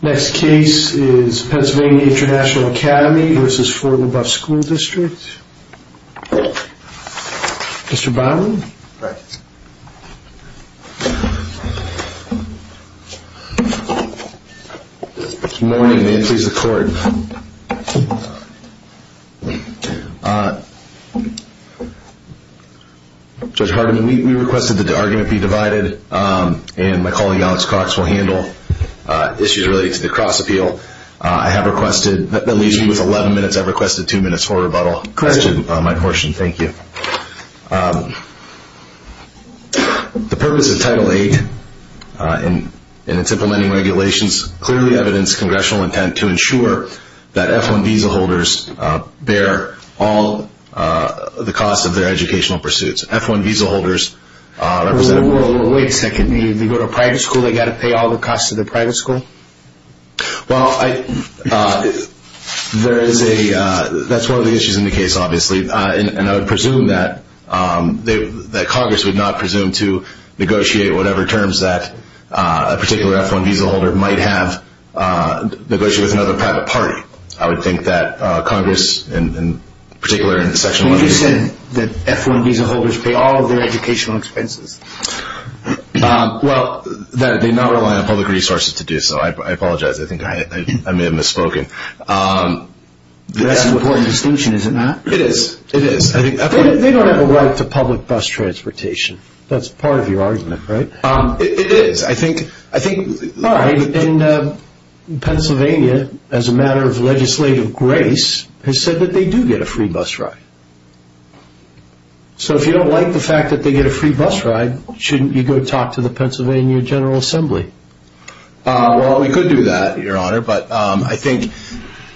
Next case is Pennsylvania International Academy versus Fort Leboeuf School District. Mr. Byron. Right. Good morning. May it please the court. Judge Harden, we requested that the argument be divided and my colleague Alex Cox will handle issues related to the cross-appeal. I have requested, that leaves me with 11 minutes, I've requested two minutes for rebuttal. Correct. My portion. Thank you. The purpose of Title VIII and its implementing regulations clearly evidence congressional intent to ensure that F-1 visa holders bear all the cost of their educational pursuits. F-1 visa holders represent a world... Wait a second. They go to a private school, they've got to pay all the costs of the private school? Well, there is a, that's one of the issues in the case, obviously, and I would presume that Congress would not presume to negotiate whatever terms that a particular F-1 visa holder might have, negotiate with another private party. I would think that Congress, in particular, in Section 11... You said that F-1 visa holders pay all of their educational expenses. Well, they do not rely on public resources to do so, I apologize, I may have misspoken. That's an important distinction, is it not? It is. They don't have a right to public bus transportation. That's part of your argument, right? It is. I think... All right. And Pennsylvania, as a matter of legislative grace, has said that they do get a free bus ride. So if you don't like the fact that they get a free bus ride, shouldn't you go talk to the Pennsylvania General Assembly? Well, we could do that, Your Honor, but I think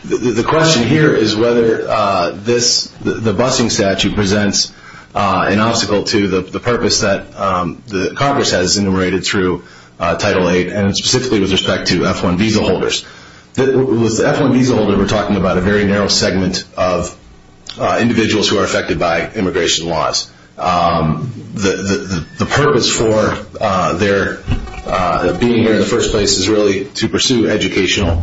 the question here is whether this, the busing statute presents an obstacle to the purpose that Congress has enumerated through respect to F-1 visa holders. With the F-1 visa holder, we're talking about a very narrow segment of individuals who are affected by immigration laws. The purpose for their being here in the first place is really to pursue educational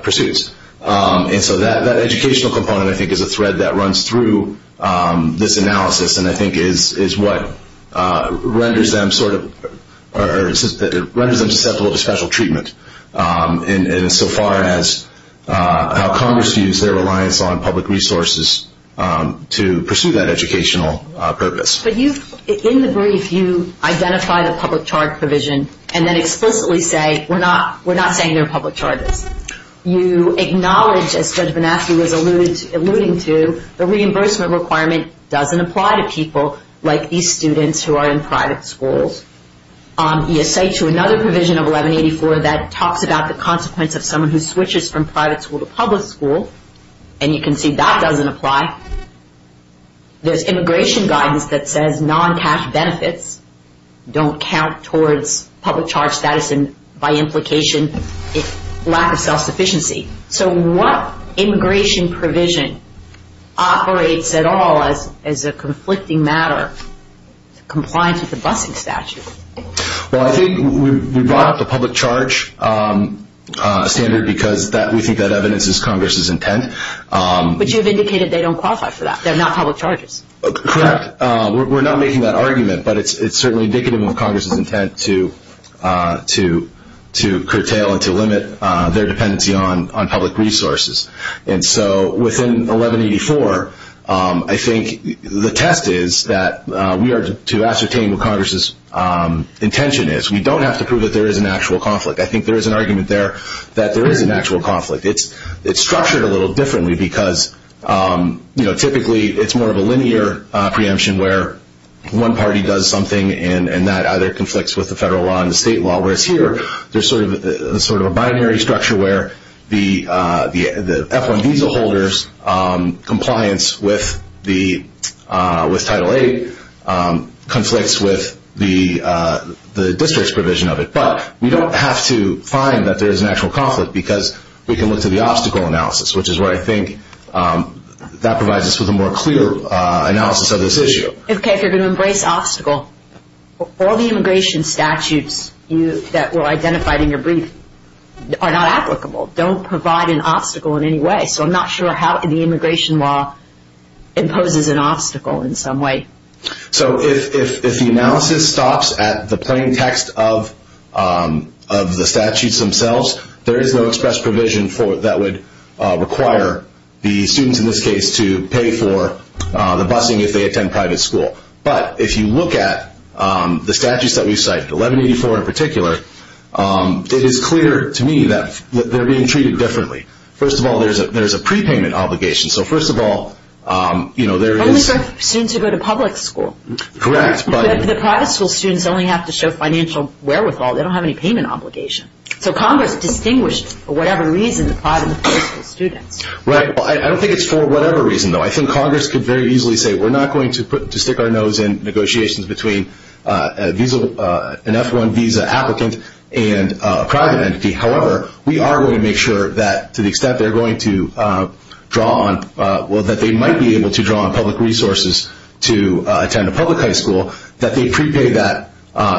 pursuits. And so that educational component, I think, is a thread that runs through this analysis and I think is what renders them susceptible to special treatment in so far as how Congress views their reliance on public resources to pursue that educational purpose. But you've, in the brief, you identify the public charge provision and then explicitly say, we're not saying they're public charges. You acknowledge, as Judge Bonaski was alluding to, the reimbursement requirement doesn't apply to people like these students who are in private schools. You say to another provision of 1184 that talks about the consequence of someone who switches from private school to public school, and you can see that doesn't apply. There's immigration guidance that says non-cash benefits don't count towards public charge status and by implication, lack of self-sufficiency. So what immigration provision operates at all as a conflicting matter compliant with the busing statute? Well, I think we brought up the public charge standard because we think that evidence is Congress's intent. But you've indicated they don't qualify for that. They're not public charges. Correct. We're not making that argument, but it's certainly indicative of Congress's intent to curtail and to limit their dependency on public resources. And so within 1184, I think the test is that we are to ascertain what Congress's intention is. We don't have to prove that there is an actual conflict. I think there is an argument there that there is an actual conflict. It's structured a little differently because typically it's more of a linear preemption where one party does something and that either conflicts with the federal law and the state law. Whereas here, there's sort of a binary structure where the F-1 visa holders' compliance with Title VIII conflicts with the district's provision of it. But we don't have to find that there is an actual conflict because we can look to the obstacle analysis, which is where I think that provides us with a more clear analysis of this issue. If you're going to embrace obstacle, all the immigration statutes that were identified in your brief are not applicable, don't provide an obstacle in any way. So I'm not sure how the immigration law imposes an obstacle in some way. So if the analysis stops at the plain text of the statutes themselves, there is no express provision that would require the students in this case to pay for the busing if they go to public school. But if you look at the statutes that we've cited, 1184 in particular, it is clear to me that they're being treated differently. First of all, there's a prepayment obligation. So first of all, you know, there is... Only for students who go to public school. Correct, but... The private school students only have to show financial wherewithal, they don't have any payment obligation. So Congress distinguished, for whatever reason, the private and the public school students. Right. I don't think it's for whatever reason, though. I think Congress could very easily say, we're not going to stick our nose in negotiations between an F-1 visa applicant and a private entity, however, we are going to make sure that to the extent they're going to draw on... Well, that they might be able to draw on public resources to attend a public high school, that they prepay that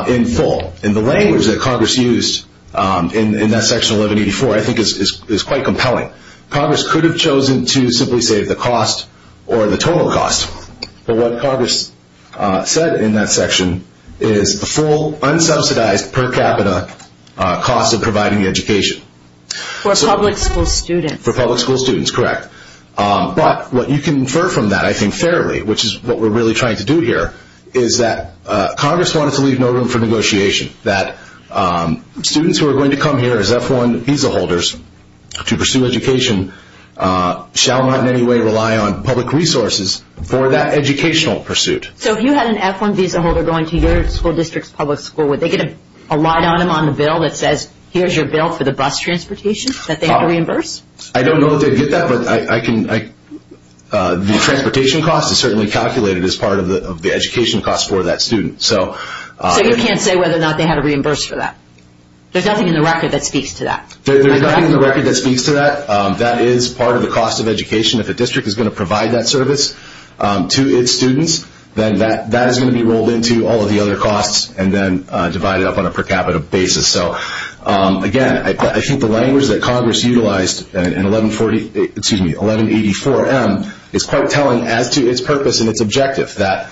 in full. And the language that Congress used in that section 1184, I think is quite compelling. Congress could have chosen to simply say the cost or the total cost. But what Congress said in that section is the full, unsubsidized, per capita cost of providing the education. For public school students. For public school students, correct. But what you can infer from that, I think, fairly, which is what we're really trying to do here, is that Congress wanted to leave no room for negotiation. That students who are going to come here as F-1 visa holders to pursue education shall not in any way rely on public resources for that educational pursuit. So if you had an F-1 visa holder going to your school district's public school, would they get a light on them on the bill that says, here's your bill for the bus transportation that they have to reimburse? I don't know that they'd get that, but the transportation cost is certainly calculated as part of the education cost for that student. So you can't say whether or not they had to reimburse for that? There's nothing in the record that speaks to that? There's nothing in the record that speaks to that. That is part of the cost of education. If a district is going to provide that service to its students, then that is going to be rolled into all of the other costs and then divided up on a per capita basis. So again, I think the language that Congress utilized in 1184M is quite telling as to its purpose and its objective that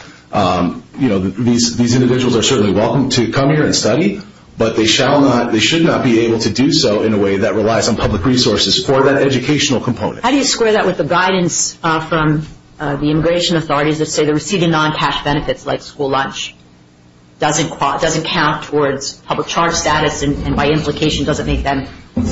these individuals are certainly welcome to come here and study, but they should not be able to do so in a way that relies on public resources for that educational component. How do you square that with the guidance from the immigration authorities that say the receiving non-cash benefits, like school lunch, doesn't count towards public charge status and by implication doesn't make them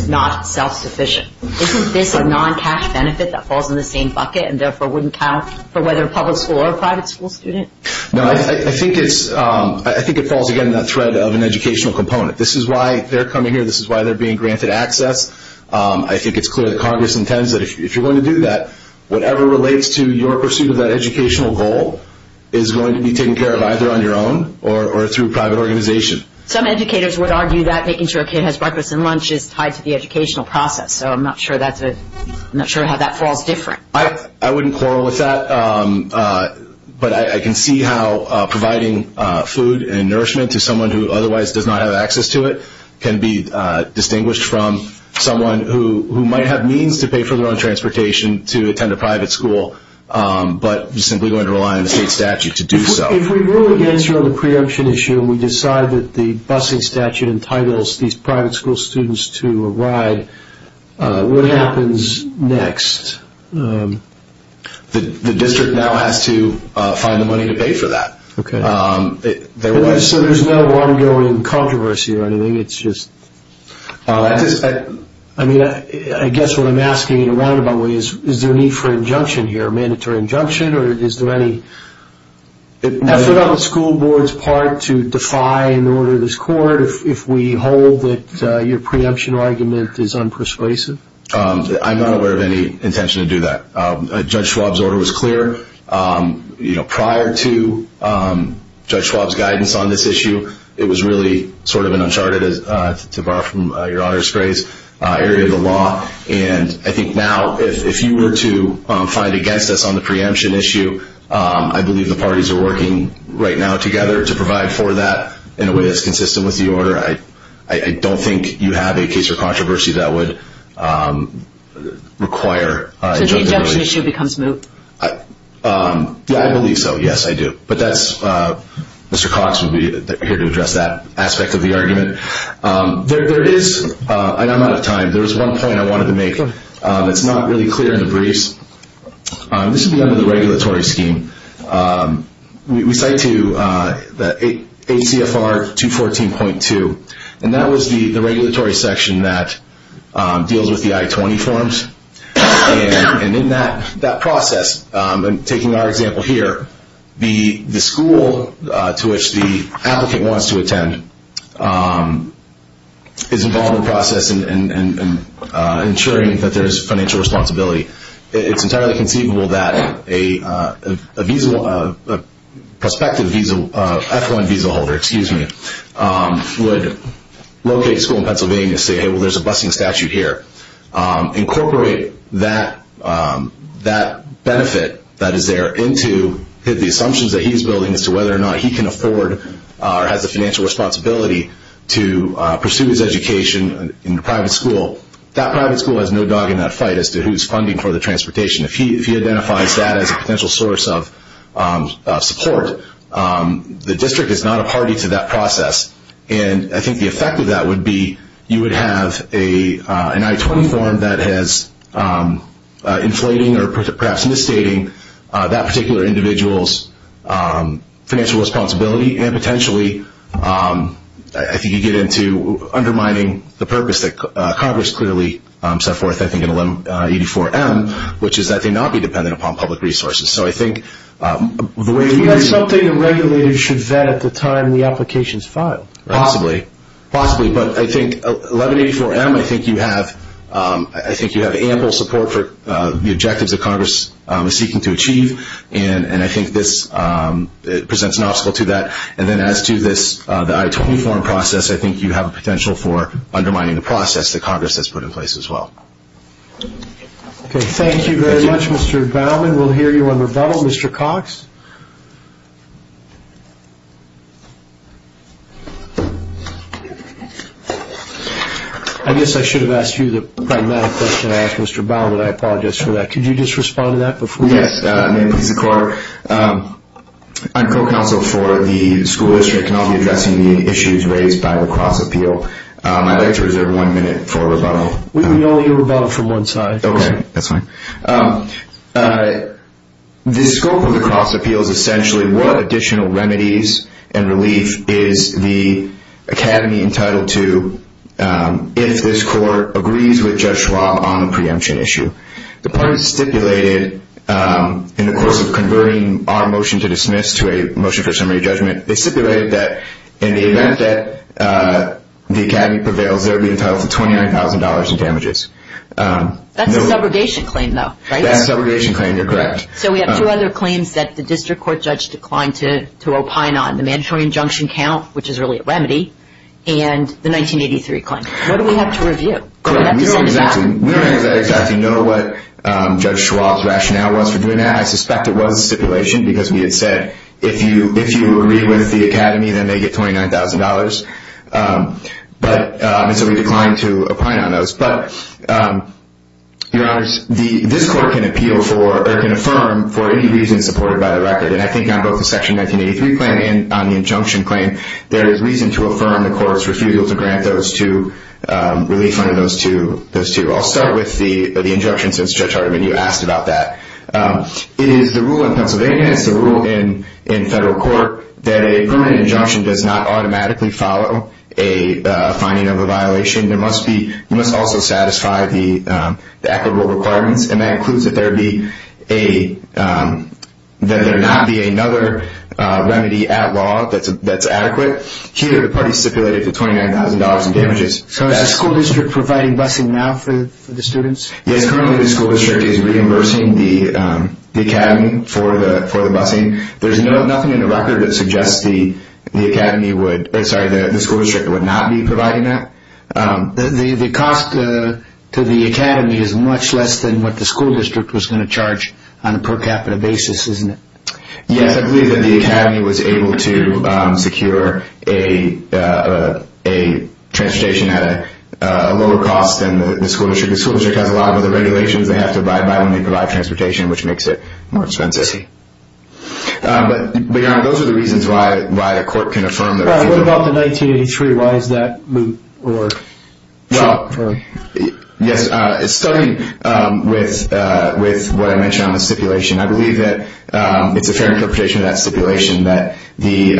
not self-sufficient? Isn't this a non-cash benefit that falls in the same bucket and therefore wouldn't count for whether a public school or a private school student? No, I think it falls again in that thread of an educational component. This is why they're coming here. This is why they're being granted access. I think it's clear that Congress intends that if you're going to do that, whatever relates to your pursuit of that educational goal is going to be taken care of either on your own or through private organization. Some educators would argue that making sure a kid has breakfast and lunch is tied to the educational process, so I'm not sure how that falls different. I wouldn't quarrel with that, but I can see how providing food and nourishment to someone who otherwise does not have access to it can be distinguished from someone who might have means to pay for their own transportation to attend a private school, but is simply going to rely on the state statute to do so. If we really get through the preemption issue and we decide that the busing statute entitles these private school students to arrive, what happens next? The district now has to find the money to pay for that. There's no ongoing controversy or anything, it's just... I guess what I'm asking in a roundabout way is, is there a need for injunction here, a mandatory injunction, or is there any effort on the school board's part to defy an order of this court if we hold that your preemption argument is unpersuasive? I'm not aware of any intention to do that. Judge Schwab's order was clear prior to Judge Schwab's guidance on this issue. It was really sort of an uncharted, to borrow from Your Honor's grace, area of the law. I think now, if you were to fight against us on the preemption issue, I believe the parties are working right now together to provide for that in a way that's consistent with the order. I don't think you have a case for controversy that would require injunction. So the injunction issue becomes moot? I believe so, yes I do, but that's... Mr. Cox would be here to address that aspect of the argument. I'm out of time. There was one point I wanted to make that's not really clear in the briefs. This would be under the regulatory scheme. We cite to the ACFR 214.2, and that was the regulatory section that deals with the I-20 forms. And in that process, taking our example here, the school to which the applicant wants to go, and ensuring that there is financial responsibility, it's entirely conceivable that a prospective F-1 visa holder would locate a school in Pennsylvania, say, hey, well there's a busing statute here, incorporate that benefit that is there into the assumptions that he's building as to whether or not he can afford or has the financial responsibility to pursue his education in a private school. That private school has no dog in that fight as to who's funding for the transportation. If he identifies that as a potential source of support, the district is not a party to that process. And I think the effect of that would be, you would have an I-20 form that has inflating or perhaps misstating that particular individual's financial responsibility, and potentially I think you get into undermining the purpose that Congress clearly set forth, I think, in 1184M, which is that they not be dependent upon public resources. So I think the way that we... That's something the regulators should vet at the time the application is filed. Possibly. Possibly. But I think 1184M, I think you have ample support for the objectives that Congress is seeking to achieve, and I think this presents an obstacle to that. And then as to this, the I-20 form process, I think you have a potential for undermining the process that Congress has put in place as well. Okay. Thank you very much, Mr. Baumann. We'll hear you on rebuttal. Mr. Cox? I guess I should have asked you the pragmatic question I asked Mr. Baumann, and I apologize for that. Could you just respond to that before... Yes. Thank you, Mr. Baumann. May it please the court. I'm co-counsel for the school district and I'll be addressing the issues raised by the cross appeal. I'd like to reserve one minute for rebuttal. We can all hear rebuttal from one side. Okay. That's fine. The scope of the cross appeal is essentially what additional remedies and relief is the academy entitled to if this court agrees with Judge Schwab on a preemption issue. The parties stipulated in the course of converting our motion to dismiss to a motion for summary judgment, they stipulated that in the event that the academy prevails, they're being entitled to $29,000 in damages. That's a subrogation claim though, right? That's a subrogation claim. You're correct. So we have two other claims that the district court judge declined to opine on, the mandatory injunction count, which is really a remedy, and the 1983 claim. Correct. We don't have to send it back. I don't know what Judge Schwab's rationale was for doing that. I suspect it was a stipulation because we had said, if you agree with the academy, then they get $29,000. And so we declined to opine on those. But your honors, this court can appeal for or can affirm for any reason supported by the record. And I think on both the section 1983 claim and on the injunction claim, there is reason to affirm the court's refusal to grant relief under those two. Thank you. I'll start with the injunction since Judge Hardiman, you asked about that. It is the rule in Pennsylvania, it's the rule in federal court, that a permanent injunction does not automatically follow a finding of a violation. You must also satisfy the applicable requirements. And that includes that there not be another remedy at law that's adequate. Here, the parties stipulated the $29,000 in damages. So is the school district providing busing now for the students? Yes, currently the school district is reimbursing the academy for the busing. There's nothing in the record that suggests the school district would not be providing that. The cost to the academy is much less than what the school district was going to charge on a per capita basis, isn't it? Yes, I believe that the academy was able to secure a transportation at a lower cost than the school district. The school district has a lot of other regulations they have to abide by when they provide transportation, which makes it more expensive. But, Your Honor, those are the reasons why a court can affirm their refusal. What about the 1983? Why is that moot? Well, yes, starting with what I mentioned on the stipulation, I believe that it's a fair interpretation of that stipulation that the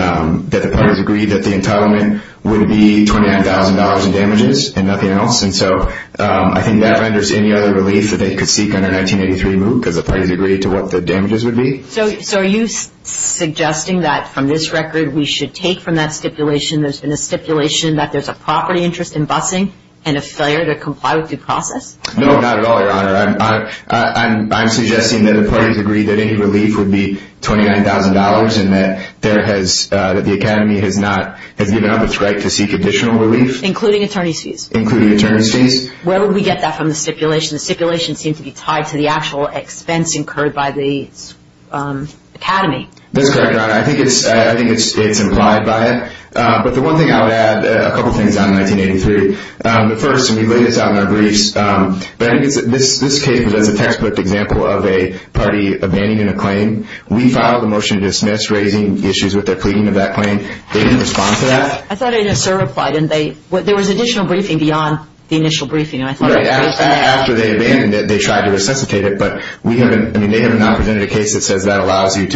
parties agreed that the entitlement would be $29,000 in damages and nothing else. And so I think that renders any other relief that they could seek under 1983 moot because the parties agreed to what the damages would be. So are you suggesting that from this record we should take from that stipulation there's been a stipulation that there's a property interest in busing and a failure to comply with due process? No, not at all, Your Honor. I'm suggesting that the parties agreed that any relief would be $29,000 and that the Academy has given up its right to seek additional relief. Including attorney's fees? Including attorney's fees. Where would we get that from the stipulation? The stipulation seemed to be tied to the actual expense incurred by the Academy. That's correct, Your Honor. I think it's implied by it. But the one thing I would add, a couple things on 1983. First, we laid this out in our briefs, but I think this case is a textbook example of a party abandoning a claim. We filed a motion to dismiss, raising issues with their pleading of that claim. They didn't respond to that. I thought they just replied. There was additional briefing beyond the initial briefing. After they abandoned it, they tried to resuscitate it, but they have not presented a case that says that allows you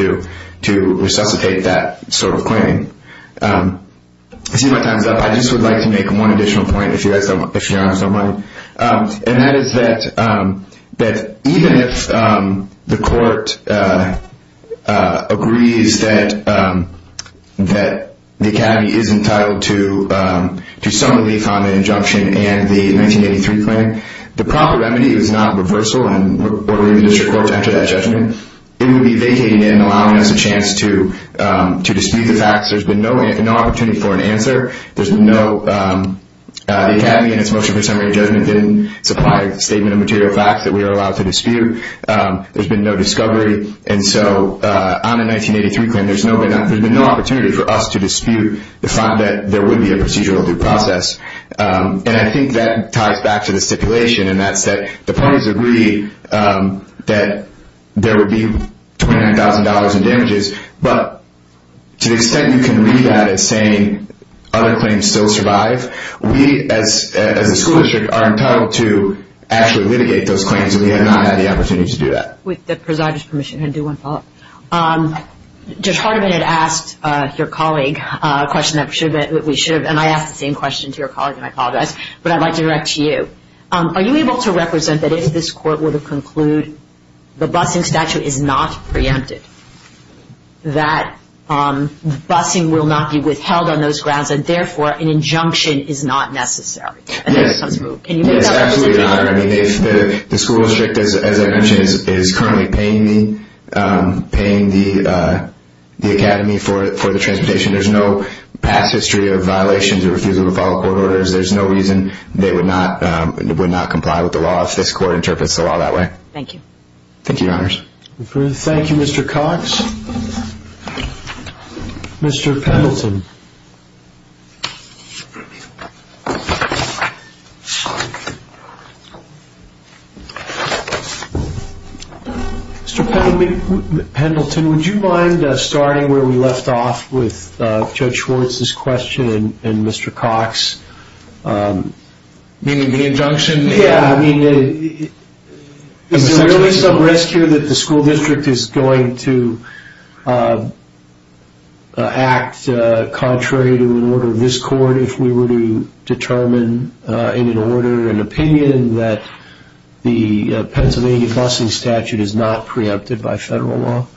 to resuscitate that sort of claim. I see my time is up. I just would like to make one additional point, if Your Honor so might. And that is that even if the court agrees that the Academy is entitled to some relief on an injunction and the 1983 claim, the proper remedy is not reversal and ordering the district court to enter that judgment. It would be vacating it and allowing us a chance to dispute the facts. There's been no opportunity for an answer. The Academy in its motion for summary judgment didn't supply a statement of material facts that we are allowed to dispute. There's been no discovery. And so on the 1983 claim, there's been no opportunity for us to dispute the fact that there would be a procedural due process. And I think that ties back to the stipulation, and that's that the parties agree that there would be $29,000 in damages. But to the extent you can read that as saying other claims still survive, we as a school district are entitled to actually litigate those claims, and we have not had the opportunity to do that. With the presider's permission, I'm going to do one follow-up. Judge Hardiman had asked your colleague a question that we should have, and I asked the same question to your colleague, and I apologize, but I'd like to direct to you. Are you able to represent that if this Court were to conclude the busing statute is not preempted, that busing will not be withheld on those grounds, and therefore an injunction is not necessary? Yes, absolutely not. The school district, as I mentioned, is currently paying the Academy for the transportation. There's no past history of violations or refusal to follow court orders. There's no reason they would not comply with the law if this Court interprets the law that way. Thank you, Your Honors. Thank you, Mr. Cox. Mr. Pendleton. Mr. Pendleton, would you mind starting where we left off with Judge Schwartz's question and Mr. Cox's? You mean the injunction? Yeah, I mean, is there really some risk here that the school district is going to act contrary to an order of this Court if we were to determine in an order and opinion that the Pennsylvania busing statute is not preempted by federal law?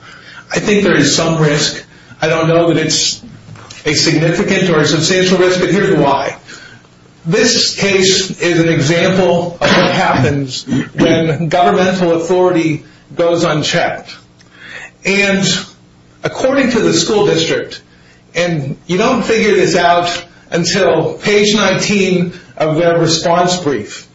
I think there is some risk. I don't know that it's a significant or a substantial risk, but here's why. This case is an example of what happens when governmental authority goes unchecked. And according to the school district, and you don't figure this out until page 19 of their response brief,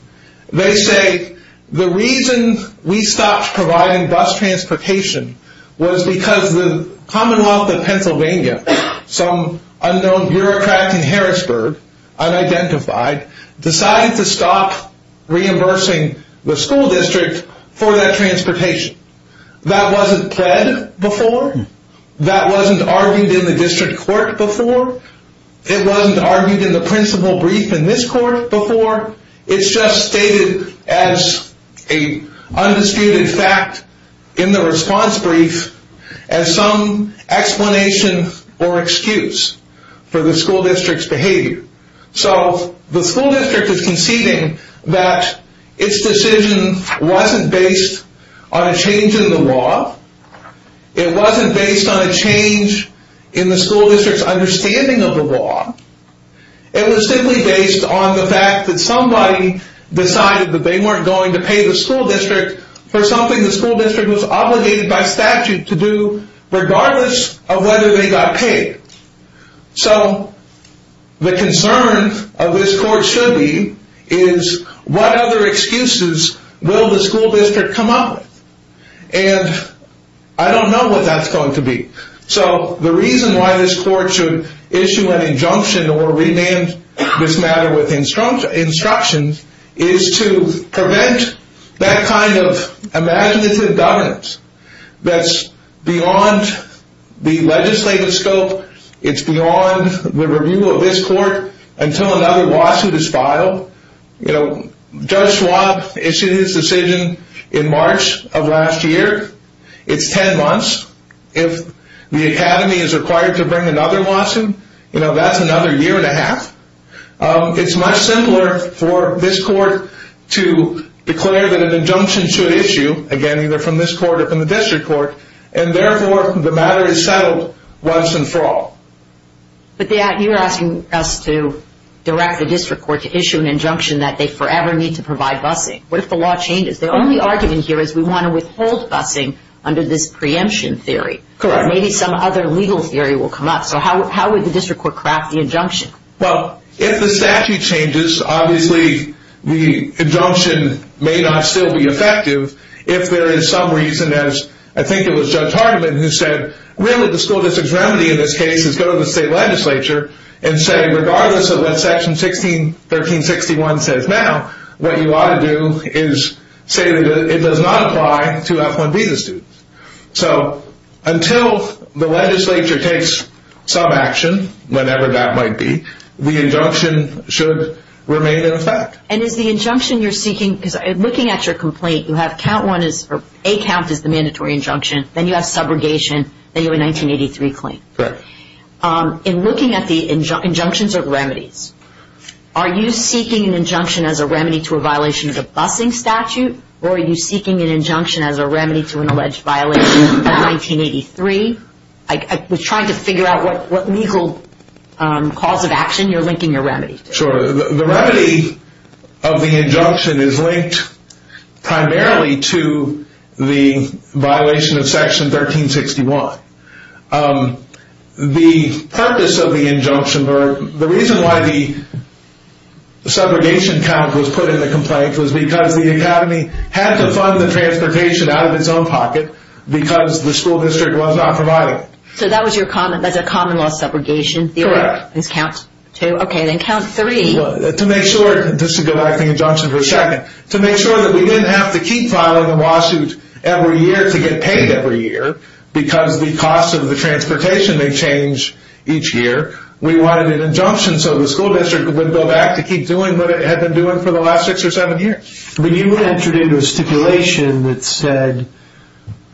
they say the reason we stopped providing bus transportation was because the Commonwealth of Pennsylvania, some unknown bureaucrat in Harrisburg, unidentified, decided to stop reimbursing the school district for that transportation. That wasn't pled before. That wasn't argued in the district court before. It wasn't argued in the principal brief in this court before. It's just stated as an undisputed fact in the response brief as some explanation or excuse for the school district's behavior. So the school district is conceding that its decision wasn't based on a change in the law. It wasn't based on a change in the school district's understanding of the law. It was simply based on the fact that somebody decided that they weren't going to pay the school district for something the school district was obligated by statute to do regardless of whether they got paid. So the concern of this court should be is what other excuses will the school district come up with? And I don't know what that's going to be. So the reason why this court should issue an injunction or rename this matter with instructions is to prevent that kind of imaginative dominance that's beyond the legislative scope. It's beyond the review of this court until another lawsuit is filed. Judge Schwab issued his decision in March of last year. It's ten months. If the academy is required to bring another lawsuit, that's another year and a half. It's much simpler for this court to declare that an injunction should issue, again, either from this court or from the district court, and therefore the matter is settled once and for all. But you're asking us to direct the district court to issue an injunction that they forever need to provide busing. What if the law changes? The only argument here is we want to withhold busing under this preemption theory. Maybe some other legal theory will come up. So how would the district court craft the injunction? Well, if the statute changes, obviously the injunction may not still be effective. If there is some reason, as I think it was Judge Hardiman who said, really the school district's remedy in this case is go to the state legislature and say, regardless of what Section 1361 says now, what you ought to do is say that it does not apply to F-1 visa students. So until the legislature takes some action, whenever that might be, the injunction should remain in effect. And is the injunction you're seeking, because looking at your complaint, you have count one is, or A count is the mandatory injunction, then you have subrogation, then you have a 1983 claim. Correct. In looking at the injunctions or remedies, are you seeking an injunction as a remedy to a violation of the busing statute, or are you seeking an injunction as a remedy to an alleged violation of 1983? I was trying to figure out what legal cause of action you're linking your remedy to. The purpose of the injunction, or the reason why the subrogation count was put in the complaint, was because the academy had to fund the transportation out of its own pocket, because the school district was not providing. So that was a common law subrogation? Correct. Okay, then count three. To make sure, just to go back to the injunction for a second, to make sure that we didn't have to keep filing a lawsuit every year to get paid every year, because the cost of the transportation may change each year. We wanted an injunction so the school district would go back to keep doing what it had been doing for the last six or seven years. But you entered into a stipulation that said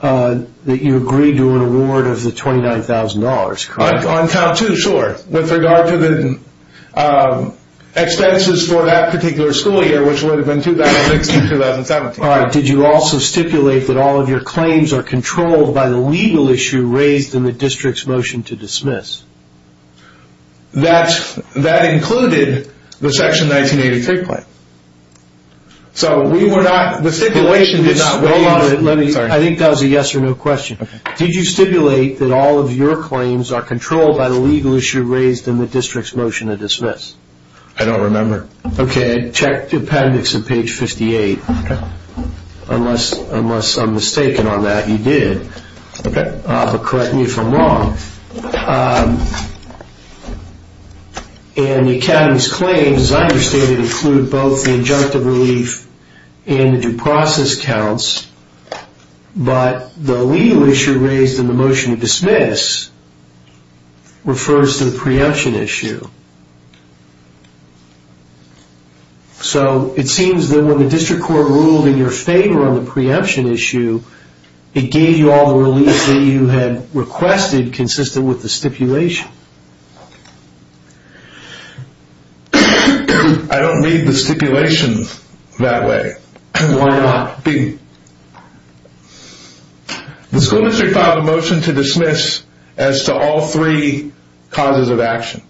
that you agreed to an award of the $29,000, correct? On count two, sure. With regard to the expenses for that particular school year, which would have been 2016-2017. All right. Did you also stipulate that all of your claims are controlled by the legal issue raised in the district's motion to dismiss? That included the Section 1983 claim. So we were not, the stipulation did not waive it. I think that was a yes or no question. Did you stipulate that all of your claims are controlled by the legal issue raised in the district's motion to dismiss? I don't remember. Okay. Check the appendix on page 58. Okay. Unless I'm mistaken on that, you did. Okay. But correct me if I'm wrong. And the Academy's claims, as I understand it, include both the injunctive relief and the due process counts, but the legal issue raised in the motion to dismiss refers to the preemption issue. So it seems that when the district court ruled in your favor on the preemption issue, it gave you all the relief that you had requested consistent with the stipulation. I don't need the stipulation that way. Why not? The school district filed a motion to dismiss as to all three causes of action.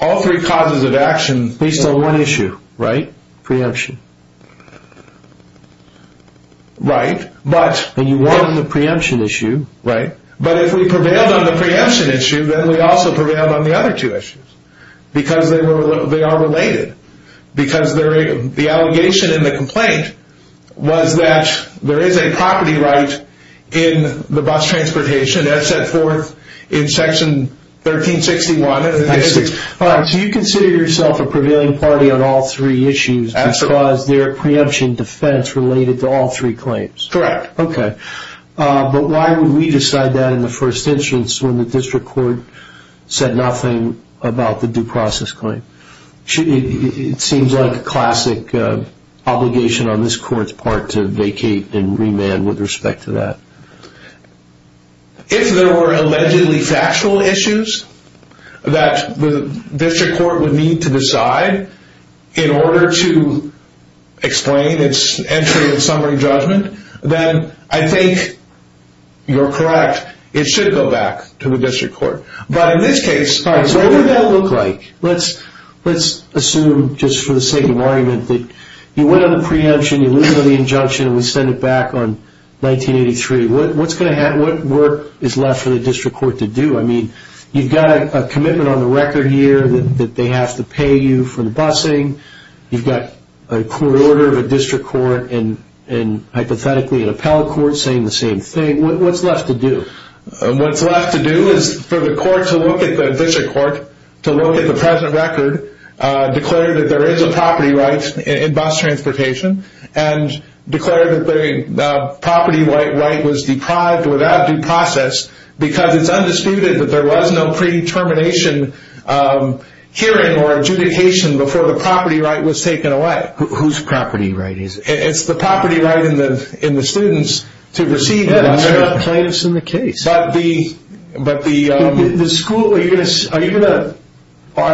All three causes of action. Based on one issue, right? Preemption. Right. And you wanted the preemption issue. Right. But if we prevailed on the preemption issue, then we also prevailed on the other two issues because they are related. Because the allegation in the complaint was that there is a property right in the bus transportation as set forth in section 1361. So you consider yourself a prevailing party on all three issues because they're preemption defense related to all three claims. Correct. Okay. But why would we decide that in the first instance when the district court said nothing about the due process claim? It seems like a classic obligation on this court's part to vacate and remand with respect to that. If there were allegedly factual issues that the district court would need to decide in order to explain its entry in summary judgment, then I think you're correct. It should go back to the district court. But in this case, what would that look like? Let's assume, just for the sake of argument, that you went on the preemption, you lose on the injunction, and we send it back on 1983. What's going to happen? What work is left for the district court to do? I mean, you've got a commitment on the record here that they have to pay you for the busing. You've got a court order of a district court and, hypothetically, an appellate court saying the same thing. What's left to do? What's left to do is for the district court to look at the present record, declare that there is a property right in bus transportation, and declare that the property right was deprived without due process because it's undisputed that there was no predetermination, hearing, or adjudication before the property right was taken away. Whose property right is it? It's the property right in the student's to receive it. There are plaintiffs in the case. Are you going to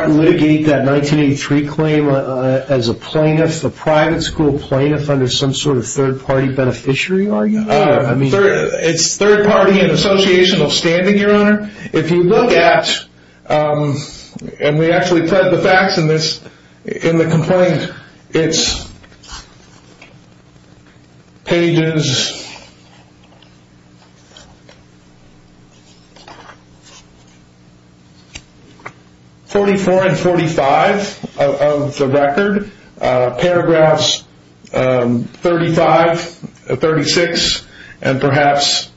litigate that 1983 claim as a plaintiff, a private school plaintiff, under some sort of third-party beneficiary argument? It's third-party and associational standing, Your Honor. If you look at, and we actually put the facts in the complaint, it's pages 44 and 45 of the record, paragraphs 35, 36, and perhaps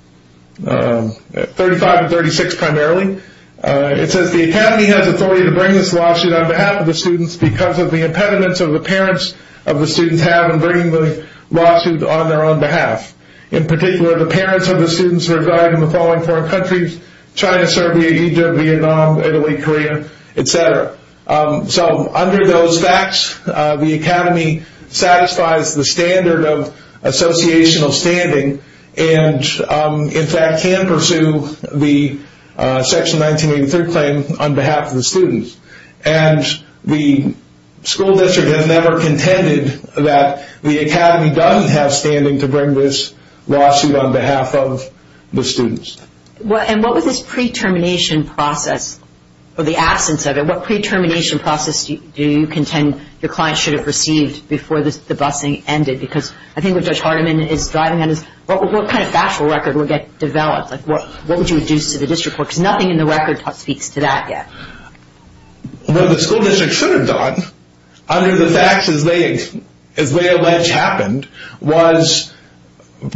35 and 36 primarily. It says the academy has authority to bring this lawsuit on behalf of the students because of the impediments of the parents of the students have in bringing the lawsuit on their own behalf. In particular, the parents of the students reside in the following four countries, China, Serbia, Egypt, Vietnam, Italy, Korea, etc. Under those facts, the academy satisfies the standard of associational standing and, in fact, can pursue the Section 1983 claim on behalf of the students. The school district has never contended that the academy doesn't have standing to bring this lawsuit on behalf of the students. And what was this pre-termination process, or the absence of it, what pre-termination process do you contend your client should have received before the busing ended? Because I think what Judge Hardiman is driving at is what kind of factual record would get developed? What would you deduce to the district court? Because nothing in the record speaks to that yet. What the school district should have done, under the facts as they allege happened, was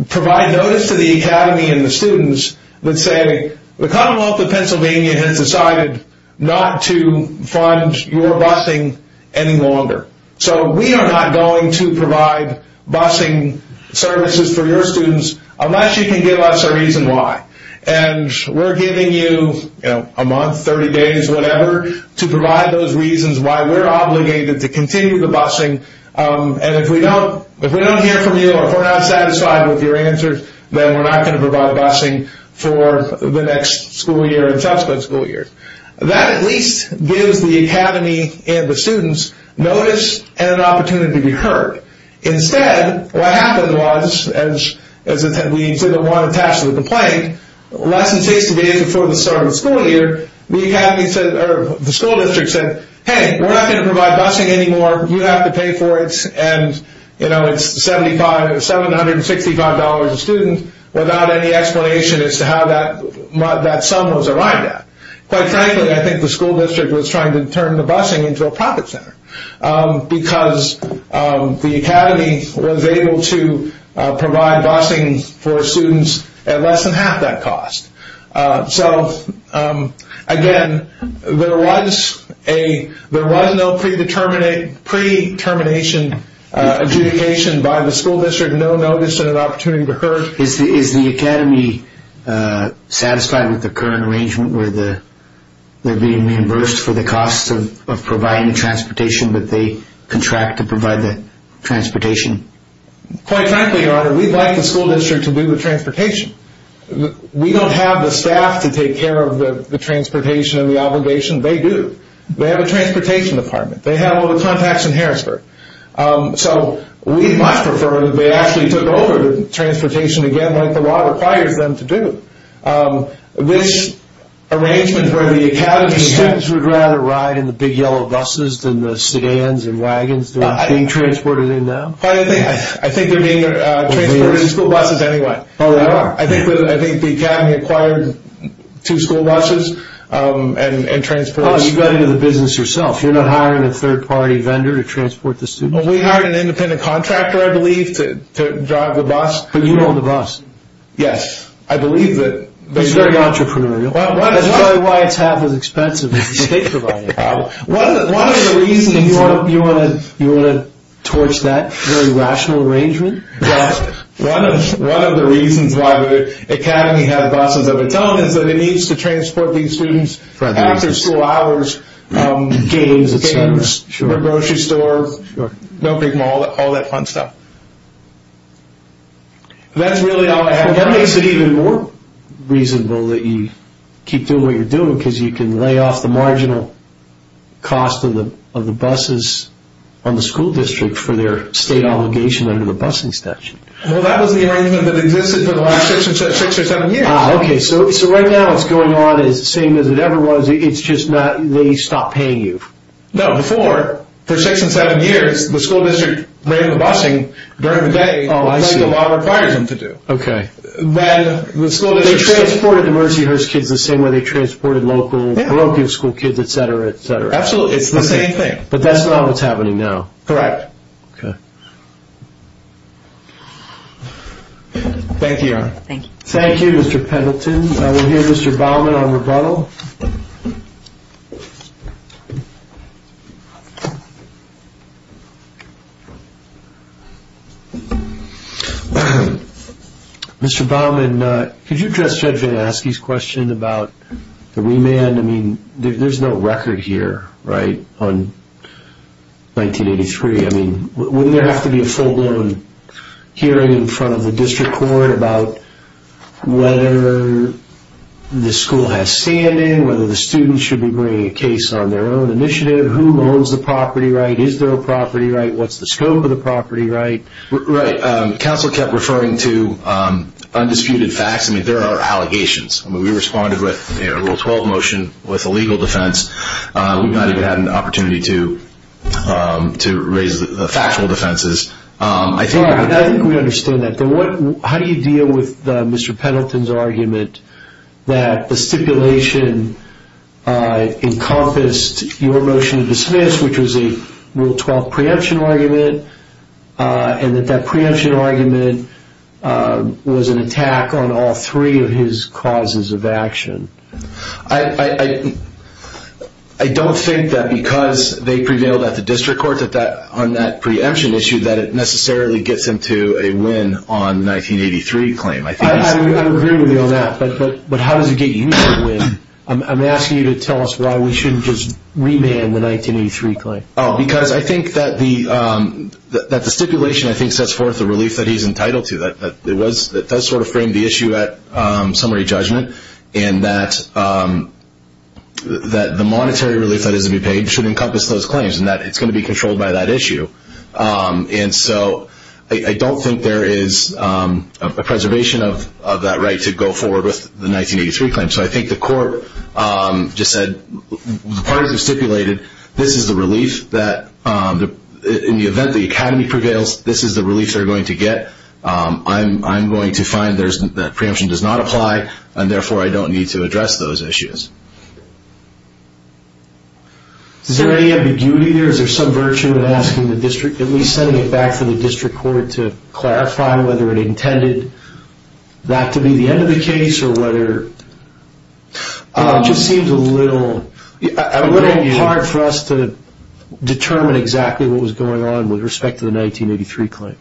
provide notice to the academy and the students that say, the Commonwealth of Pennsylvania has decided not to fund your busing any longer. So we are not going to provide busing services for your students unless you can give us a reason why. And we're giving you a month, 30 days, whatever, to provide those reasons why we're obligated to continue the busing. And if we don't hear from you, or if we're not satisfied with your answers, then we're not going to provide busing for the next school year and subsequent school years. That at least gives the academy and the students notice and an opportunity to be heard. Instead, what happened was, as we didn't want to attach to the complaint, less than six days before the start of the school year, the school district said, hey, we're not going to provide busing anymore, you have to pay for it, and it's $765 a student without any explanation as to how that sum was arrived at. Quite frankly, I think the school district was trying to turn the busing into a profit center. Because the academy was able to provide busing for students at less than half that cost. So, again, there was no pre-determination adjudication by the school district, no notice, and an opportunity to be heard. Is the academy satisfied with the current arrangement where they're being reimbursed for the cost of providing transportation, but they contract to provide the transportation? Quite frankly, your honor, we'd like the school district to be with transportation. We don't have the staff to take care of the transportation and the obligation, they do. They have a transportation department, they have all the contacts in Harrisburg. So, we'd much prefer that they actually took over the transportation again like the law requires them to do. This arrangement where the academy students would rather ride in the big yellow buses than the sedans and wagons that are being transported in now? Quite frankly, I think they're being transported in school buses anyway. Oh, they are? I think the academy acquired two school buses and transported them. You got into the business yourself, you're not hiring a third-party vendor to transport the students? We hired an independent contractor, I believe, to drive the bus. But you own the bus? Yes, I believe that. That's very entrepreneurial. That's probably why it's half as expensive as the state-provided bus. You want to torch that very rational arrangement? One of the reasons why the academy had buses of its own is that it needs to transport these students after school hours, games, the grocery store, no-brick mall, all that fun stuff. That's really all I have. That makes it even more reasonable that you keep doing what you're doing, because you can lay off the marginal cost of the buses on the school district for their state obligation under the busing statute. Well, that was the arrangement that existed for the last six or seven years. Ah, okay, so right now what's going on is the same as it ever was, it's just that they stopped paying you. No, before, for six or seven years, the school district raided the busing during the day, like the law requires them to do. Okay. They transported the Mercyhurst kids the same way they transported local parochial school kids, et cetera, et cetera. Absolutely, it's the same thing. But that's not what's happening now. Correct. Okay. Thank you, Your Honor. Thank you. We'll hear Mr. Baumann on rebuttal. Mr. Baumann, could you address Judge VanAske's question about the remand? I mean, there's no record here, right, on 1983. I mean, wouldn't there have to be a full-blown hearing in front of the district court about whether the school has standing, whether the students should be bringing a case on their own initiative, who owns the property right, is there a property right, what's the scope of the property right? Right. Counsel kept referring to undisputed facts. I mean, there are allegations. I mean, we responded with a Rule 12 motion with a legal defense. We've not even had an opportunity to raise the factual defenses. I think we understand that. How do you deal with Mr. Pendleton's argument that the stipulation encompassed your motion to dismiss, which was a Rule 12 preemption argument, and that that preemption argument was an attack on all three of his causes of action? I don't think that because they prevailed at the district court on that preemption issue that it necessarily gets him to a win on 1983 claim. I agree with you on that, but how does it get you to win? I'm asking you to tell us why we shouldn't just remand the 1983 claim. Because I think that the stipulation, I think, sets forth the relief that he's entitled to, that it does sort of frame the issue at summary judgment, and that the monetary relief that is to be paid should encompass those claims and that it's going to be controlled by that issue. And so I don't think there is a preservation of that right to go forward with the 1983 claim. So I think the court just said the parties have stipulated this is the relief that in the event the academy prevails, this is the relief they're going to get. I'm going to find that preemption does not apply, and therefore I don't need to address those issues. Is there any ambiguity there? Is there some virtue in asking the district, at least sending it back to the district court, to clarify whether it intended that to be the end of the case or whether it just seemed a little hard for us to determine exactly what was going on with respect to the 1983 claim?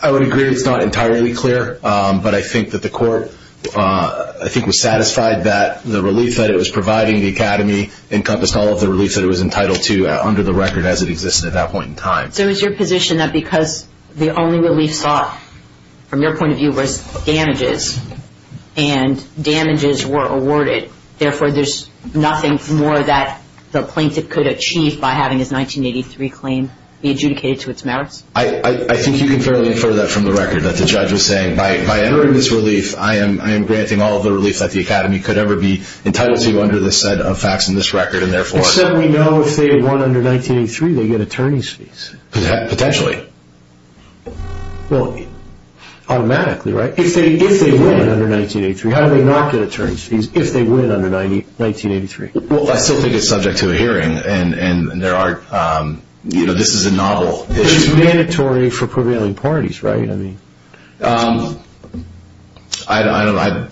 I would agree it's not entirely clear, but I think that the court was satisfied that the relief that it was providing the academy encompassed all of the relief that it was entitled to under the record as it existed at that point in time. So is your position that because the only relief sought, from your point of view, was damages, and damages were awarded, therefore there's nothing more that the plaintiff could achieve by having his 1983 claim be adjudicated to its merits? I think you can fairly infer that from the record, that the judge was saying by entering this relief, I am granting all of the relief that the academy could ever be entitled to under the set of facts in this record, Except we know if they win under 1983, they get attorney's fees. Potentially. Automatically, right? If they win under 1983, how do they not get attorney's fees if they win under 1983? I still think it's subject to a hearing, and this is a novel issue. It's mandatory for prevailing parties, right? Potentially, I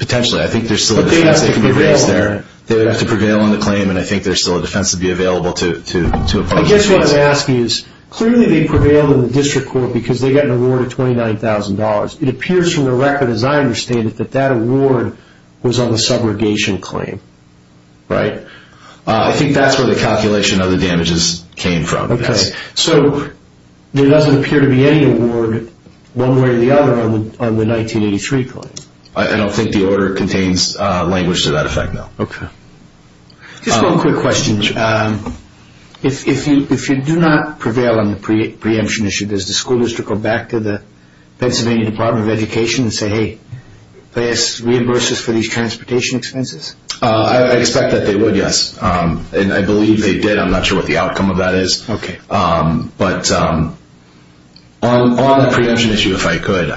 think there's still a difference that can be raised there. They would have to prevail on the claim, and I think there's still a defense to be available to oppose. I guess what I'm asking is, clearly they prevailed in the district court because they got an award of $29,000. It appears from the record, as I understand it, that that award was on the subrogation claim, right? I think that's where the calculation of the damages came from. So there doesn't appear to be any award, one way or the other, on the 1983 claim? I don't think the order contains language to that effect, no. Just one quick question. If you do not prevail on the preemption issue, does the school district go back to the Pennsylvania Department of Education and say, hey, reimburse us for these transportation expenses? I expect that they would, yes, and I believe they did. I'm not sure what the outcome of that is. But on the preemption issue, if I could,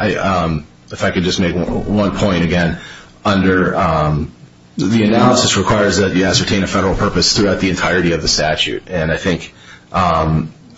if I could just make one point, again, under the analysis requires that you ascertain a federal purpose throughout the entirety of the statute, and I think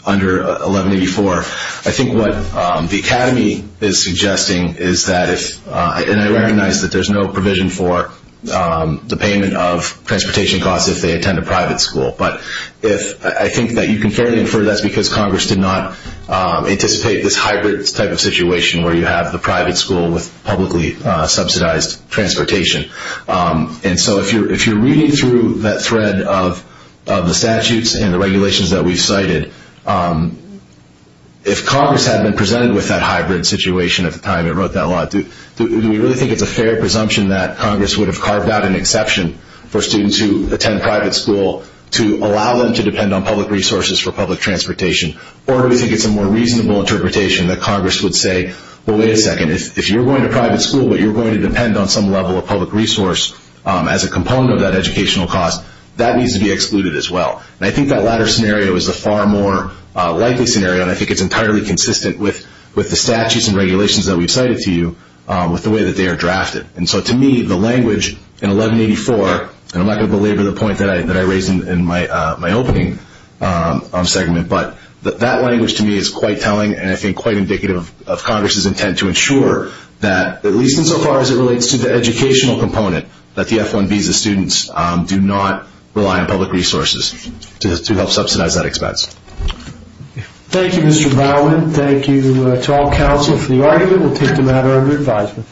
under 1184, I think what the Academy is suggesting is that if, and I recognize that there's no provision for the payment of transportation costs if they attend a private school, but if I think that you can fairly infer that's because Congress did not anticipate this hybrid type of situation where you have the private school with publicly subsidized transportation. And so if you're reading through that thread of the statutes and the regulations that we've cited, if Congress had been presented with that hybrid situation at the time it wrote that law, do we really think it's a fair presumption that Congress would have carved out an exception for students who attend private school to allow them to depend on public resources for public transportation, or do we think it's a more reasonable interpretation that Congress would say, well, wait a second, if you're going to private school but you're going to depend on some level of public resource as a component of that educational cost, that needs to be excluded as well. And I think that latter scenario is a far more likely scenario, and I think it's entirely consistent with the statutes and regulations that we've cited to you with the way that they are drafted. And so to me, the language in 1184, and I'm not going to belabor the point that I raised in my opening segment, but that language to me is quite telling and I think quite indicative of Congress's intent to ensure that, at least insofar as it relates to the educational component, that the F-1 visa students do not rely on public resources to help subsidize that expense. Thank you, Mr. Bowen. Thank you to all counsel for the argument. We'll take the matter under advisement.